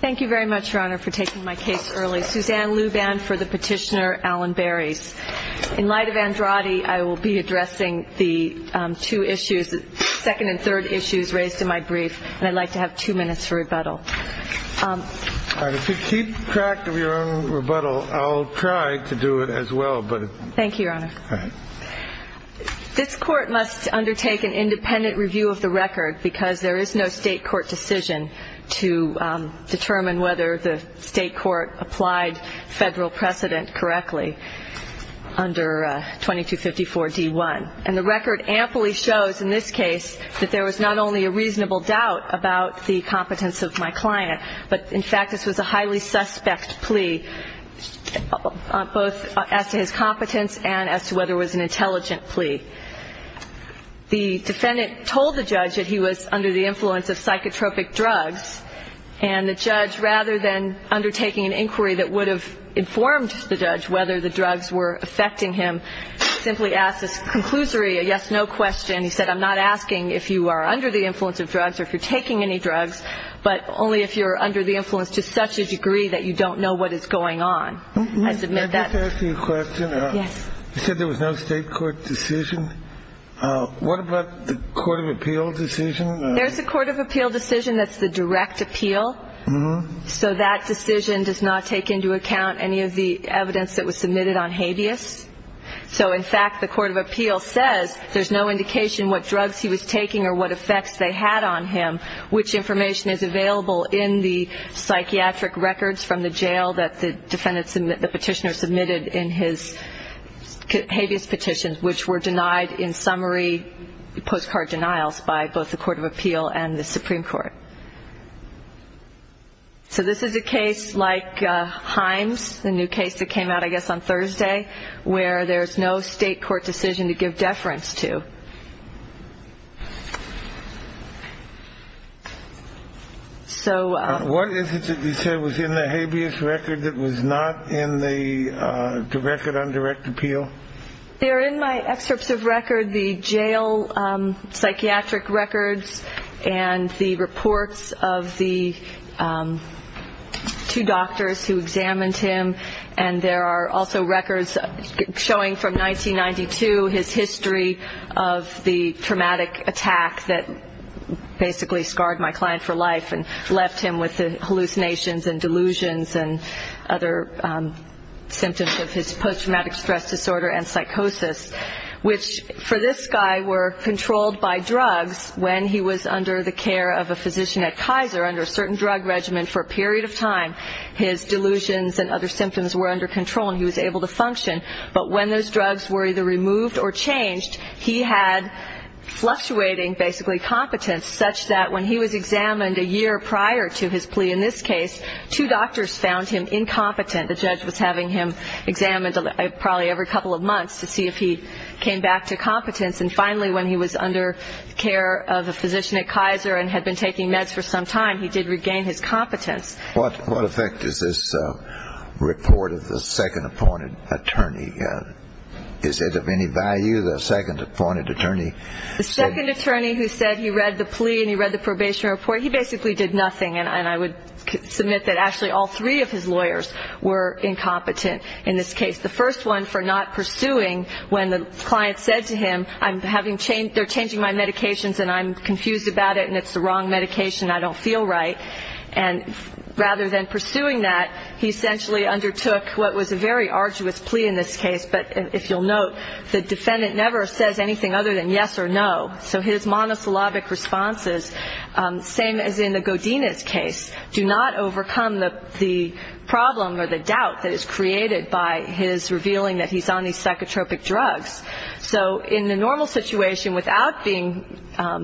Thank you very much, your honor, for taking my case early. Suzanne Luban for the petitioner Alan Barries. In light of Andrade, I will be addressing the two issues, the second and third issues raised in my brief, and I'd like to have two minutes for rebuttal. If you keep track of your own rebuttal, I'll try to do it as well. This Court must undertake an independent review of the record because there is no state court decision to determine whether the state court applied federal precedent correctly under 2254 D1. And the record amply shows in this case that there was not only a reasonable doubt about the competence of my client, but in fact this was a highly suspect plea, both as to his competence and as to whether it was an intelligent plea. The defendant told the judge that he was under the influence of psychotropic drugs, and the judge, rather than undertaking an inquiry that would have informed the judge whether the drugs were affecting him, simply asked a conclusory yes-no question. He said, I'm not asking if you are under the influence of drugs or if you're taking any drugs, but only if you're under the influence to such a degree that you don't know what is going on. I submit that. Can I just ask you a question? Yes. You said there was no state court decision. What about the court of appeal decision? There's a court of appeal decision that's the direct appeal, so that decision does not take into account any of the evidence that was submitted on habeas. So, in fact, the court of appeal says there's no indication what drugs he was taking or what effects they had on him, which information is available in the psychiatric records from the jail that the petitioner submitted in his habeas petitions, which were denied in summary postcard denials by both the court of appeal and the Supreme Court. So this is a case like Himes, the new case that came out, I guess, on Thursday, where there's no state court decision to give deference to. So what is it that you said was in the habeas record that was not in the record on direct appeal? They're in my excerpts of record, the jail psychiatric records and the reports of the two doctors who examined him, and there are also records showing from 1992 his history of the traumatic attack that basically scarred my client for life and left him with hallucinations and delusions and other symptoms of his post-traumatic stress disorder. And psychosis, which for this guy were controlled by drugs when he was under the care of a physician at Kaiser under a certain drug regimen for a period of time. His delusions and other symptoms were under control and he was able to function. But when those drugs were either removed or changed, he had fluctuating basically competence such that when he was examined a year prior to his plea in this case, two doctors found him incompetent. The judge was having him examined probably every couple of months to see if he came back to competence. And finally, when he was under the care of a physician at Kaiser and had been taking meds for some time, he did regain his competence. What effect is this report of the second appointed attorney? Is it of any value, the second appointed attorney? The second attorney who said he read the plea and he read the probation report, he basically did nothing. And I would submit that actually all three of his lawyers were incompetent in this case. The first one for not pursuing when the client said to him, they're changing my medications and I'm confused about it and it's the wrong medication, I don't feel right. And rather than pursuing that, he essentially undertook what was a very arduous plea in this case. But if you'll note, the defendant never says anything other than yes or no. So his monosyllabic responses, same as in the Godinez case, do not overcome the problem or the doubt that is created by his revealing that he's on these psychotropic drugs. So in the normal situation, without being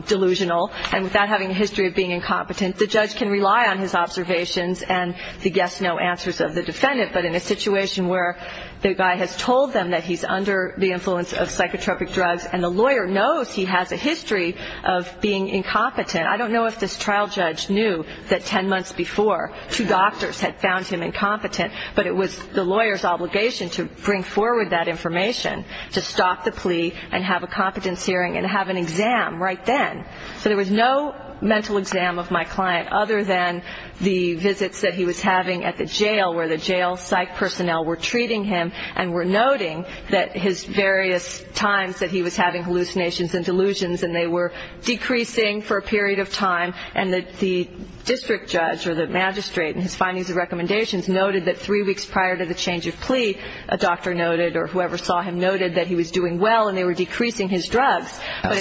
delusional and without having a history of being incompetent, the judge can rely on his observations and the yes-no answers of the defendant. But in a situation where the guy has told them that he's under the influence of psychotropic drugs and the lawyer knows he has a history of being incompetent, I don't know if this trial judge knew that 10 months before, two doctors had found him incompetent, but it was the lawyer's obligation to bring forward that information to stop the plea and have a competence hearing and have an exam right then. So there was no mental exam of my client other than the visits that he was having at the jail where the jail psych personnel were treating him and were noting that his various times that he was having hallucinations and delusions and they were decreasing for a period of time and that the district judge or the magistrate in his findings and recommendations noted that three weeks prior to the change of plea, a doctor noted or whoever saw him noted that he was doing well and they were decreasing his drugs. How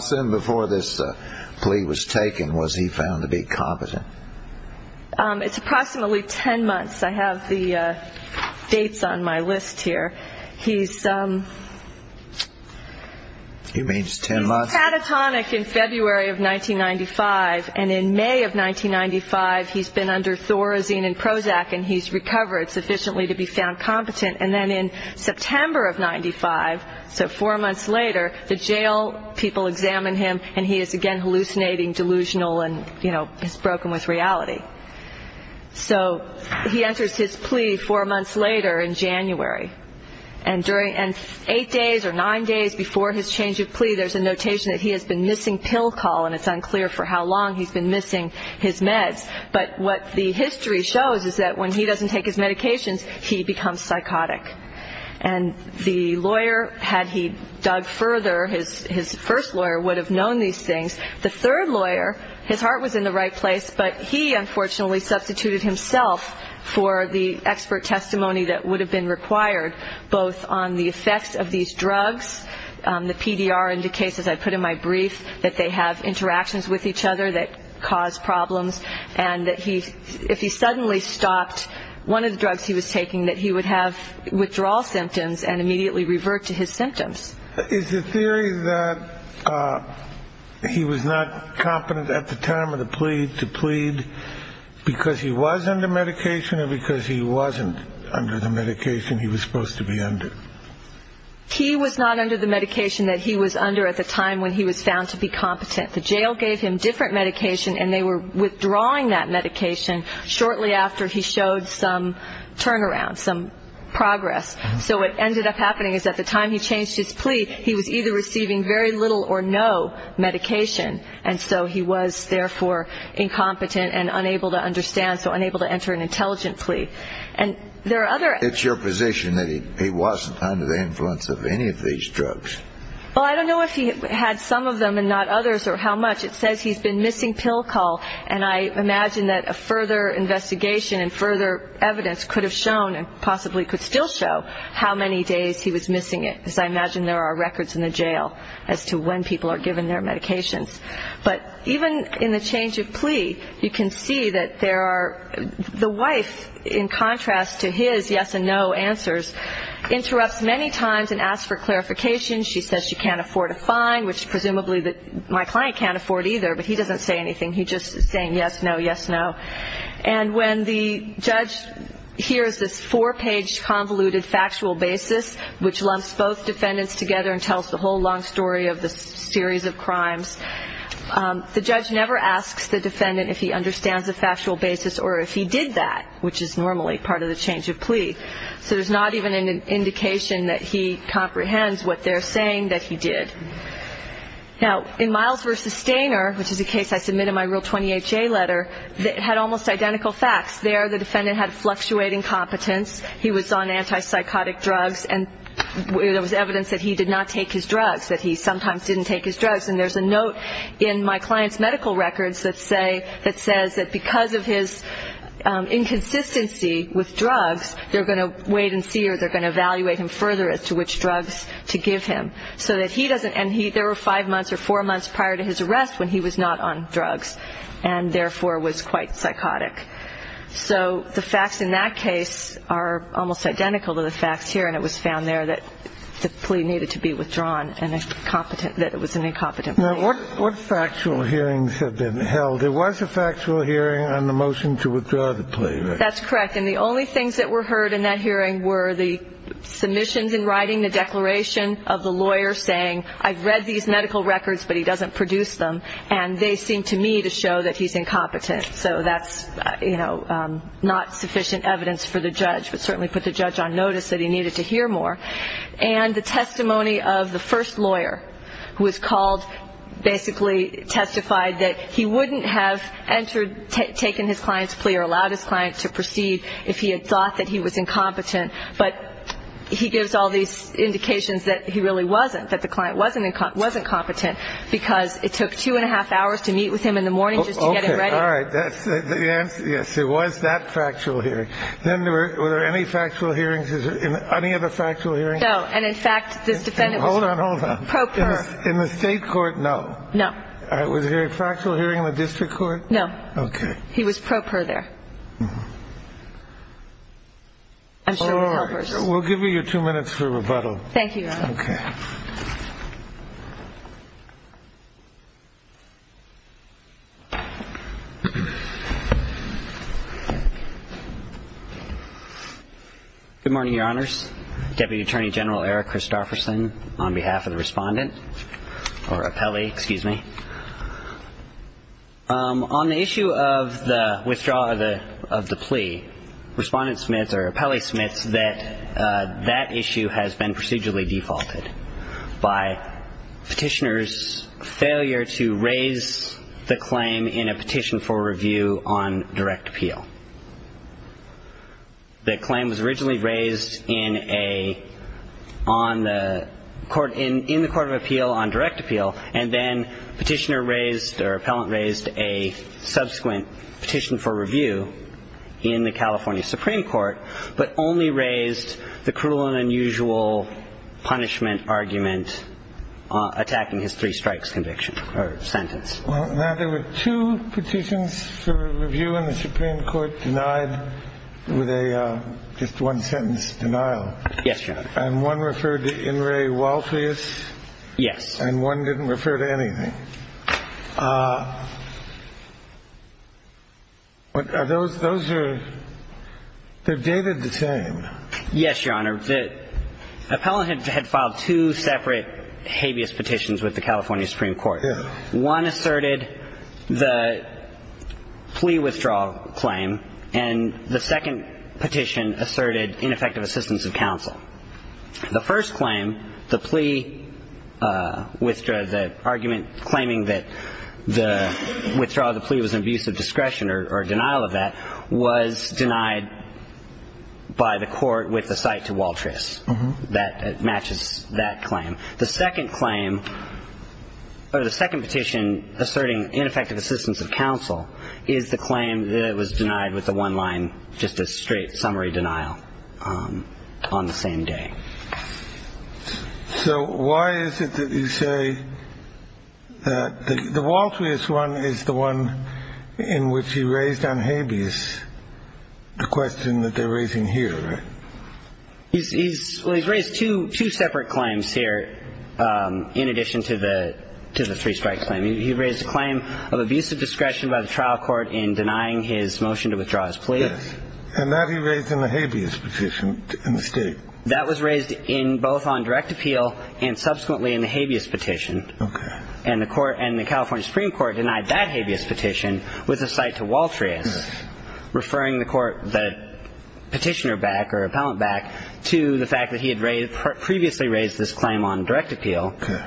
soon before this plea was taken was he found to be competent? It's approximately 10 months. I have the dates on my list here. He's catatonic in February of 1995 and in May of 1995 he's been under Thorazine and Prozac and he's recovered sufficiently to be found competent and then in September of 1995, so four months later, the jail people examine him and he is again hallucinating, delusional and, you know, has broken with reality. So he enters his plea four months later in January and eight days or nine days before his change of plea, there's a notation that he has been missing pill call and it's unclear for how long he's been missing his meds, but what the history shows is that when he doesn't take his medications, he becomes psychotic and the lawyer, had he dug further, his first lawyer would have known these things. The third lawyer, his heart was in the right place, but he unfortunately substituted himself for the expert testimony that would have been required, both on the effects of these drugs, the PDR indicates, as I put in my brief, that they have interactions with each other that cause problems and that if he suddenly stopped one of the drugs he was taking, that he would have withdrawal symptoms and immediately revert to his symptoms. Is the theory that he was not competent at the time of the plea to plead because he was under medication or because he wasn't under the medication he was supposed to be under? He was not under the medication that he was under at the time when he was found to be competent. The jail gave him different medication and they were withdrawing that medication shortly after he showed some turnaround, some progress, so what ended up happening is at the time he changed his plea, he was either receiving very little or no medication and so he was, therefore, incompetent and unable to understand, so unable to enter an intelligent plea. It's your position that he wasn't under the influence of any of these drugs. Well, I don't know if he had some of them and not others or how much. It says he's been missing pill call and I imagine that a further investigation and further evidence could have shown and possibly could still show how many days he was missing it because I imagine there are records in the jail as to when people are given their medications. But even in the change of plea, you can see that there are the wife, in contrast to his yes and no answers, interrupts many times and asks for clarification. She says she can't afford a fine, which presumably my client can't afford either, but he doesn't say anything. He's just saying yes, no, yes, no. And when the judge hears this four-page convoluted factual basis, which lumps both defendants together and tells the whole long story of the series of crimes, the judge never asks the defendant if he understands the factual basis or if he did that, which is normally part of the change of plea. So there's not even an indication that he comprehends what they're saying that he did. Now, in Miles v. Stainer, which is a case I submit in my Rule 28J letter, it had almost identical facts. There the defendant had fluctuating competence. He was on antipsychotic drugs, and there was evidence that he did not take his drugs, that he sometimes didn't take his drugs. And there's a note in my client's medical records that says that because of his inconsistency with drugs, they're going to wait and see or they're going to evaluate him further as to which drugs to give him. And there were five months or four months prior to his arrest when he was not on drugs and therefore was quite psychotic. So the facts in that case are almost identical to the facts here, and it was found there that the plea needed to be withdrawn and that it was an incompetent plea. Now, what factual hearings have been held? There was a factual hearing on the motion to withdraw the plea, right? That's correct. And the only things that were heard in that hearing were the submissions in writing, the declaration of the lawyer saying, I've read these medical records, but he doesn't produce them, and they seem to me to show that he's incompetent. So that's, you know, not sufficient evidence for the judge, but certainly put the judge on notice that he needed to hear more. And the testimony of the first lawyer who was called basically testified that he wouldn't have entered, taken his client's plea or allowed his client to proceed if he had thought that he was incompetent, but he gives all these indications that he really wasn't, that the client wasn't competent, because it took two and a half hours to meet with him in the morning just to get him ready. All right. That's the answer. Yes, it was that factual hearing. Then were there any factual hearings in any of the factual hearings? No. And in fact, this defendant was pro per. Hold on, hold on. In the state court? No. No. Was there a factual hearing in the district court? No. Okay. He was pro per there. I'm sure with helpers. We'll give you your two minutes for rebuttal. Thank you. Okay. Good morning, Your Honors. Deputy Attorney General Eric Christofferson on behalf of the Respondent or Appellee, excuse me. On the issue of the withdrawal of the plea, Respondent Smiths or Appellee Smiths, that that issue has been procedurally defaulted by Petitioner's failure to raise the claim in a petition for review on direct appeal. The claim was originally raised in the Court of Appeal on direct appeal, and then Petitioner raised or Appellant raised a subsequent petition for review in the California Supreme Court, but only raised the cruel and unusual punishment argument attacking his three strikes conviction or sentence. Now, there were two petitions for review in the Supreme Court denied with a just one-sentence denial. Yes, Your Honor. And one referred to In re Walfeus. Yes. And one didn't refer to anything. Are those – those are – they're dated the same. Yes, Your Honor. The appellant had filed two separate habeas petitions with the California Supreme Court. Yes. One asserted the plea withdrawal claim, and the second petition asserted ineffective assistance of counsel. The first claim, the plea – the argument claiming that the withdrawal of the plea was an abuse of discretion or denial of that was denied by the court with a cite to Waltris. That matches that claim. The second claim, or the second petition asserting ineffective assistance of counsel, is the claim that it was denied with the one-line just a straight summary denial on the same day. So why is it that you say that the Waltris one is the one in which he raised on habeas the question that they're raising here? He's – well, he's raised two separate claims here in addition to the three-strike claim. He raised a claim of abuse of discretion by the trial court in denying his motion to withdraw his plea. Yes. And that he raised in the habeas petition in the state. That was raised in – both on direct appeal and subsequently in the habeas petition. Okay. And the court – and the California Supreme Court denied that habeas petition with a cite to Waltris, referring the court – the petitioner back or appellant back to the fact that he had previously raised this claim on direct appeal. Okay.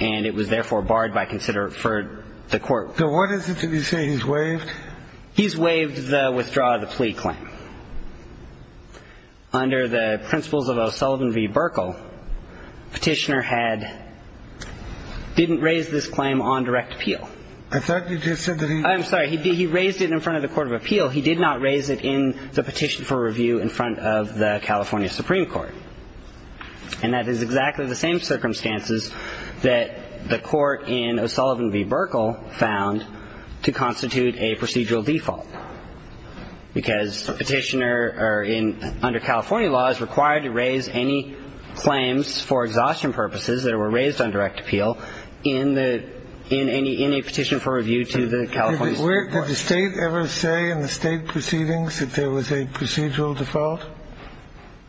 And it was therefore barred by – for the court. So what is it that you say he's waived? He's waived the withdraw of the plea claim. Under the principles of O'Sullivan v. Burkle, petitioner had – didn't raise this claim on direct appeal. I thought you just said that he – I'm sorry. He raised it in front of the court of appeal. He did not raise it in the petition for review in front of the California Supreme Court. And that is exactly the same circumstances that the court in O'Sullivan v. Burkle found to constitute a procedural default, because a petitioner are in – under California law is required to raise any claims for exhaustion purposes that were raised on direct appeal in the – in any – in a petition for review to the California Supreme Court. Did the State ever say in the State proceedings that there was a procedural default?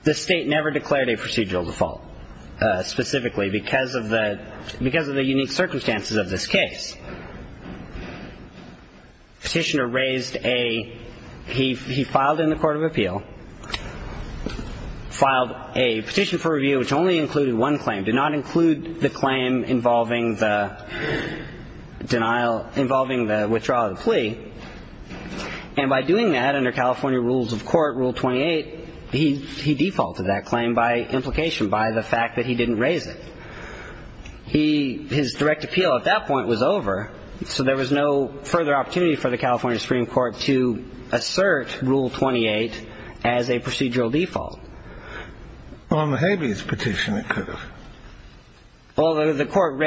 The State never declared a procedural default specifically because of the – because of the unique circumstances of this case. Petitioner raised a – he filed in the court of appeal, filed a petition for review which only included one claim, did not include the claim involving the denial – involving the withdrawal of the plea. And by doing that, under California rules of court, Rule 28, he defaulted that claim by implication, by the fact that he didn't raise it. He – his direct appeal at that point was over, so there was no further opportunity for the California Supreme Court to assert Rule 28 as a procedural default. Well, on the habeas petition, it could have. Well, the court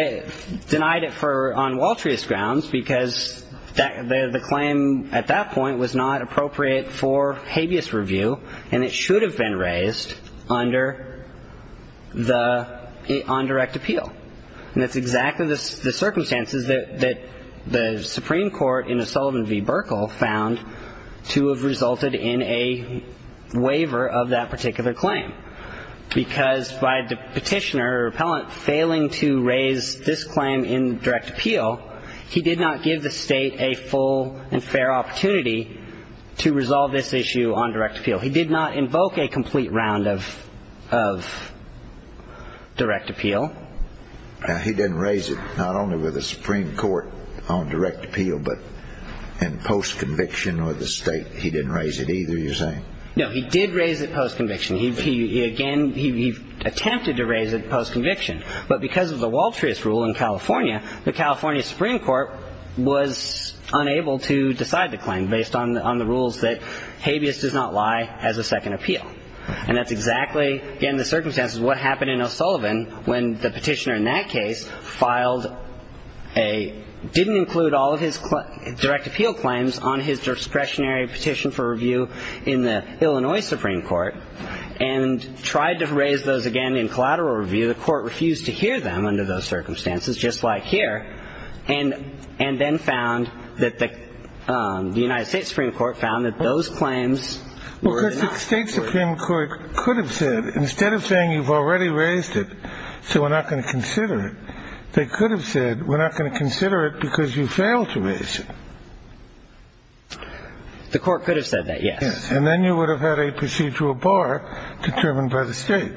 denied it for – on Waltrius grounds, because the claim at that point was not appropriate for habeas review, and it should have been raised under the – on direct appeal. And that's exactly the circumstances that the Supreme Court in O'Sullivan v. Burkle found to have resulted in a waiver of that particular claim, because by the petitioner or appellant failing to raise this claim in direct appeal, he did not give the State a full and fair opportunity to resolve this issue on direct appeal. He did not invoke a complete round of – of direct appeal. Now, he didn't raise it, not only with the Supreme Court on direct appeal, but in post-conviction or the State, he didn't raise it either, you're saying? No. He did raise it post-conviction. He – again, he attempted to raise it post-conviction. But because of the Waltrius rule in California, the California Supreme Court was unable to decide the claim based on the – on the rules that habeas does not lie as a second appeal. And that's exactly, again, the circumstances of what happened in O'Sullivan when the petitioner in that case filed a – didn't include all of his direct appeal claims on his discretionary petition for review in the Illinois Supreme Court and tried to raise those again in collateral review. The court refused to hear them under those circumstances, just like here, and then found that the – the United States Supreme Court found that those claims were not – The United States Supreme Court could have said, instead of saying, you've already raised it, so we're not going to consider it, they could have said, we're not going to consider it because you failed to raise it. The court could have said that, yes. And then you would have had a procedural bar determined by the State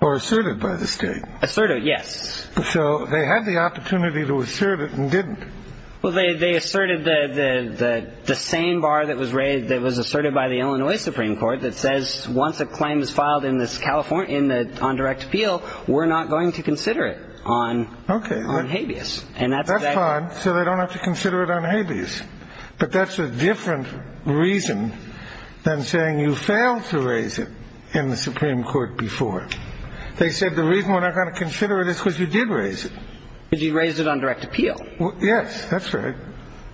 or asserted by the State. Asserted, yes. So they had the opportunity to assert it and didn't. Well, they asserted the same bar that was raised – that was asserted by the Illinois Supreme Court that says once a claim is filed in this – on direct appeal, we're not going to consider it on habeas. Okay. And that's exactly – That's fine, so they don't have to consider it on habeas. But that's a different reason than saying you failed to raise it in the Supreme Court before. They said the reason we're not going to consider it is because you did raise it. Because you raised it on direct appeal. Yes, that's right.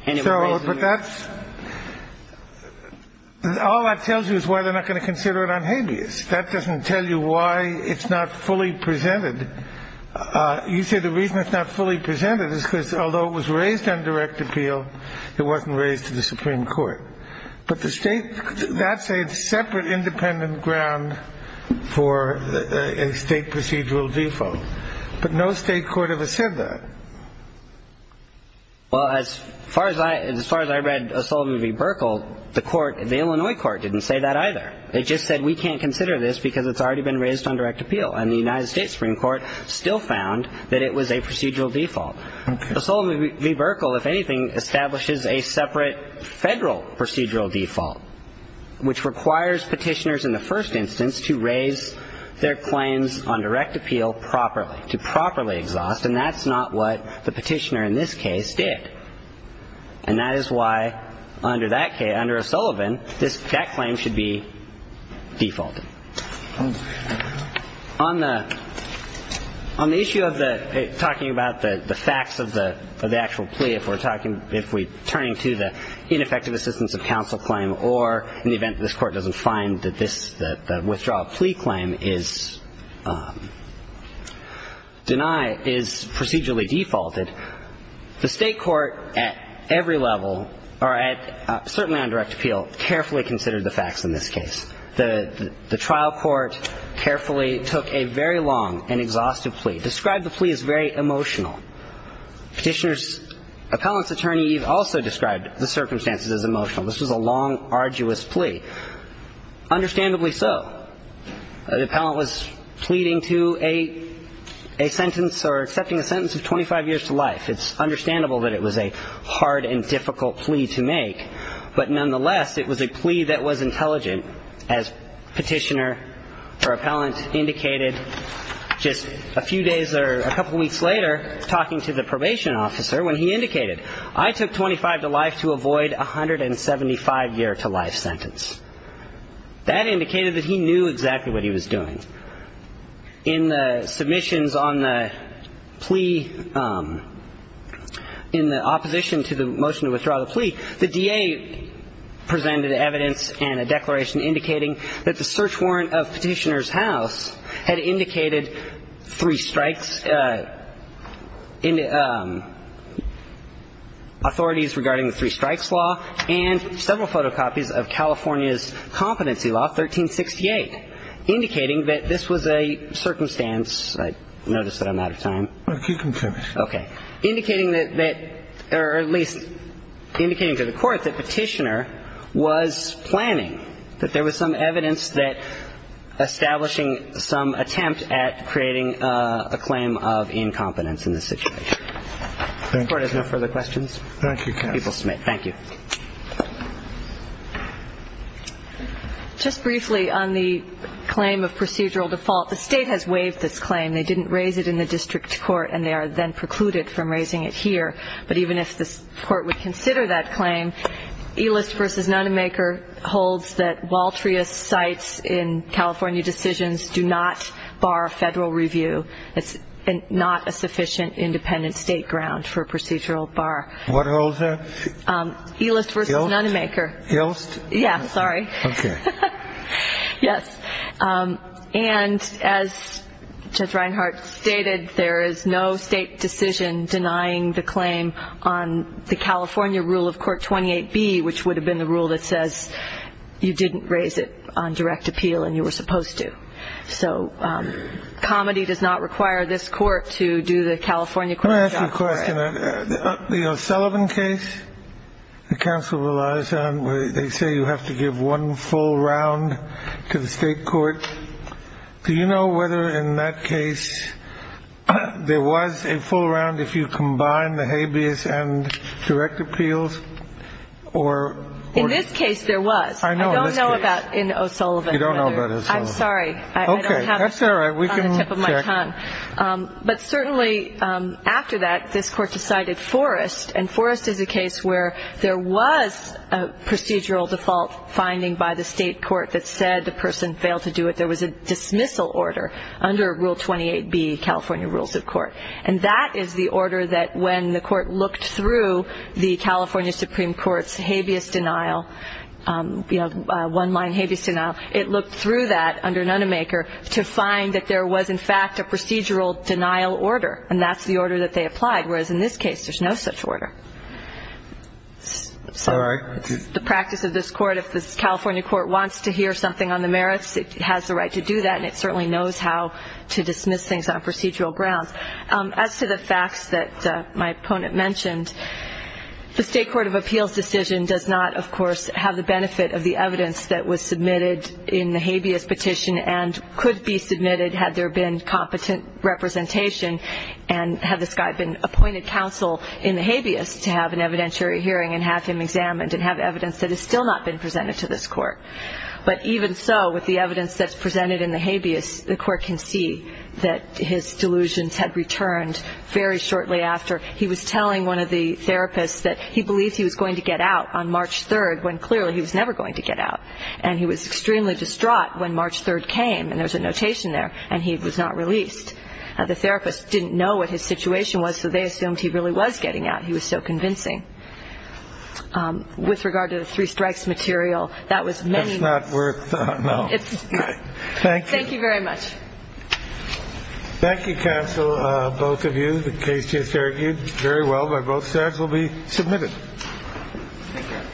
But that's – all that tells you is why they're not going to consider it on habeas. That doesn't tell you why it's not fully presented. You say the reason it's not fully presented is because although it was raised on direct appeal, it wasn't raised to the Supreme Court. But the State – that's a separate independent ground for a State procedural default. But no State court ever said that. Well, as far as I – as far as I read O'Sullivan v. Burkle, the court – the Illinois court didn't say that either. They just said we can't consider this because it's already been raised on direct appeal. And the United States Supreme Court still found that it was a procedural default. O'Sullivan v. Burkle, if anything, establishes a separate Federal procedural default, which requires Petitioners in the first instance to raise their claims on direct appeal properly, to properly exhaust, and that's not what the Petitioner in this case did. And that is why under that case – under O'Sullivan, this – that claim should be defaulted. On the – on the issue of the – talking about the facts of the actual plea, if we're talking – if we're turning to the ineffective assistance of counsel claim or in the event that this Court doesn't find that this – that the withdrawal plea claim is denied, is procedurally defaulted, the State court at every level or at – certainly on direct appeal carefully considered the facts in this case. The trial court carefully took a very long and exhaustive plea, described the plea as very emotional. Petitioner's appellant's attorney also described the circumstances as emotional. This was a long, arduous plea. Understandably so. The appellant was pleading to a – a sentence or accepting a sentence of 25 years to life. It's understandable that it was a hard and difficult plea to make. But nonetheless, it was a plea that was intelligent, as Petitioner or appellant indicated just a few days or a couple weeks later talking to the probation officer when he indicated, I took 25 to life to avoid a 175-year-to-life sentence. That indicated that he knew exactly what he was doing. In the submissions on the plea – in the opposition to the motion to withdraw the plea, the DA presented evidence and a declaration indicating that the search warrant of Petitioner's house had indicated three strikes in – authorities regarding the three strikes law and several photocopies of California's competency law, 1368, indicating that this was a circumstance – I notice that I'm out of time. Well, keep going, sir. Okay. Indicating that – or at least indicating to the court that Petitioner was planning, that there was some evidence that establishing some attempt at creating a claim of incompetence in this situation. Thank you. If the court has no further questions. Thank you, counsel. Thank you. Just briefly on the claim of procedural default, the state has waived this claim. They didn't raise it in the district court, and they are then precluded from raising it here. But even if the court would consider that claim, Ehlist v. Nonemaker holds that Waltria sites in California decisions do not bar federal review. It's not a sufficient independent state ground for procedural bar. What holds there? Ehlist v. Nonemaker. Ehlist? Yeah, sorry. Okay. Yes. And as Judge Reinhart stated, there is no state decision denying the claim on the California rule of Court 28B, which would have been the rule that says you didn't raise it on direct appeal, and you were supposed to. So comedy does not require this court to do the California court job. Let me ask you a question. The O'Sullivan case the counsel relies on, they say you have to give one full round to the state court. Do you know whether in that case there was a full round if you combine the habeas and direct appeals? In this case, there was. I don't know about in O'Sullivan. You don't know about O'Sullivan. I'm sorry. Okay, that's all right. We can check. But certainly after that, this court decided Forrest, and Forrest is a case where there was a procedural default finding by the state court that said the person failed to do it. There was a dismissal order under Rule 28B, California Rules of Court. And that is the order that when the court looked through the California Supreme Court's habeas denial, you know, one-line habeas denial, it looked through that under Nunnemaker to find that there was, in fact, a procedural denial order, and that's the order that they applied. Whereas in this case, there's no such order. The practice of this court, if the California court wants to hear something on the merits, it has the right to do that, and it certainly knows how to dismiss things on procedural grounds. As to the facts that my opponent mentioned, the state court of appeals decision does not, of course, have the benefit of the evidence that was submitted in the habeas petition and could be submitted had there been competent representation and had this guy been appointed counsel in the habeas to have an evidentiary hearing and have him examined and have evidence that has still not been presented to this court. But even so, with the evidence that's presented in the habeas, the court can see that his delusions had returned very shortly after. He was telling one of the therapists that he believed he was going to get out on March 3rd, when clearly he was never going to get out. And he was extremely distraught when March 3rd came, and there's a notation there, and he was not released. The therapist didn't know what his situation was, so they assumed he really was getting out. He was so convincing. With regard to the three strikes material, that was many. That's not worth a no. Thank you. Thank you very much. Thank you, counsel, both of you. The case is argued very well by both sides will be submitted. Thank you.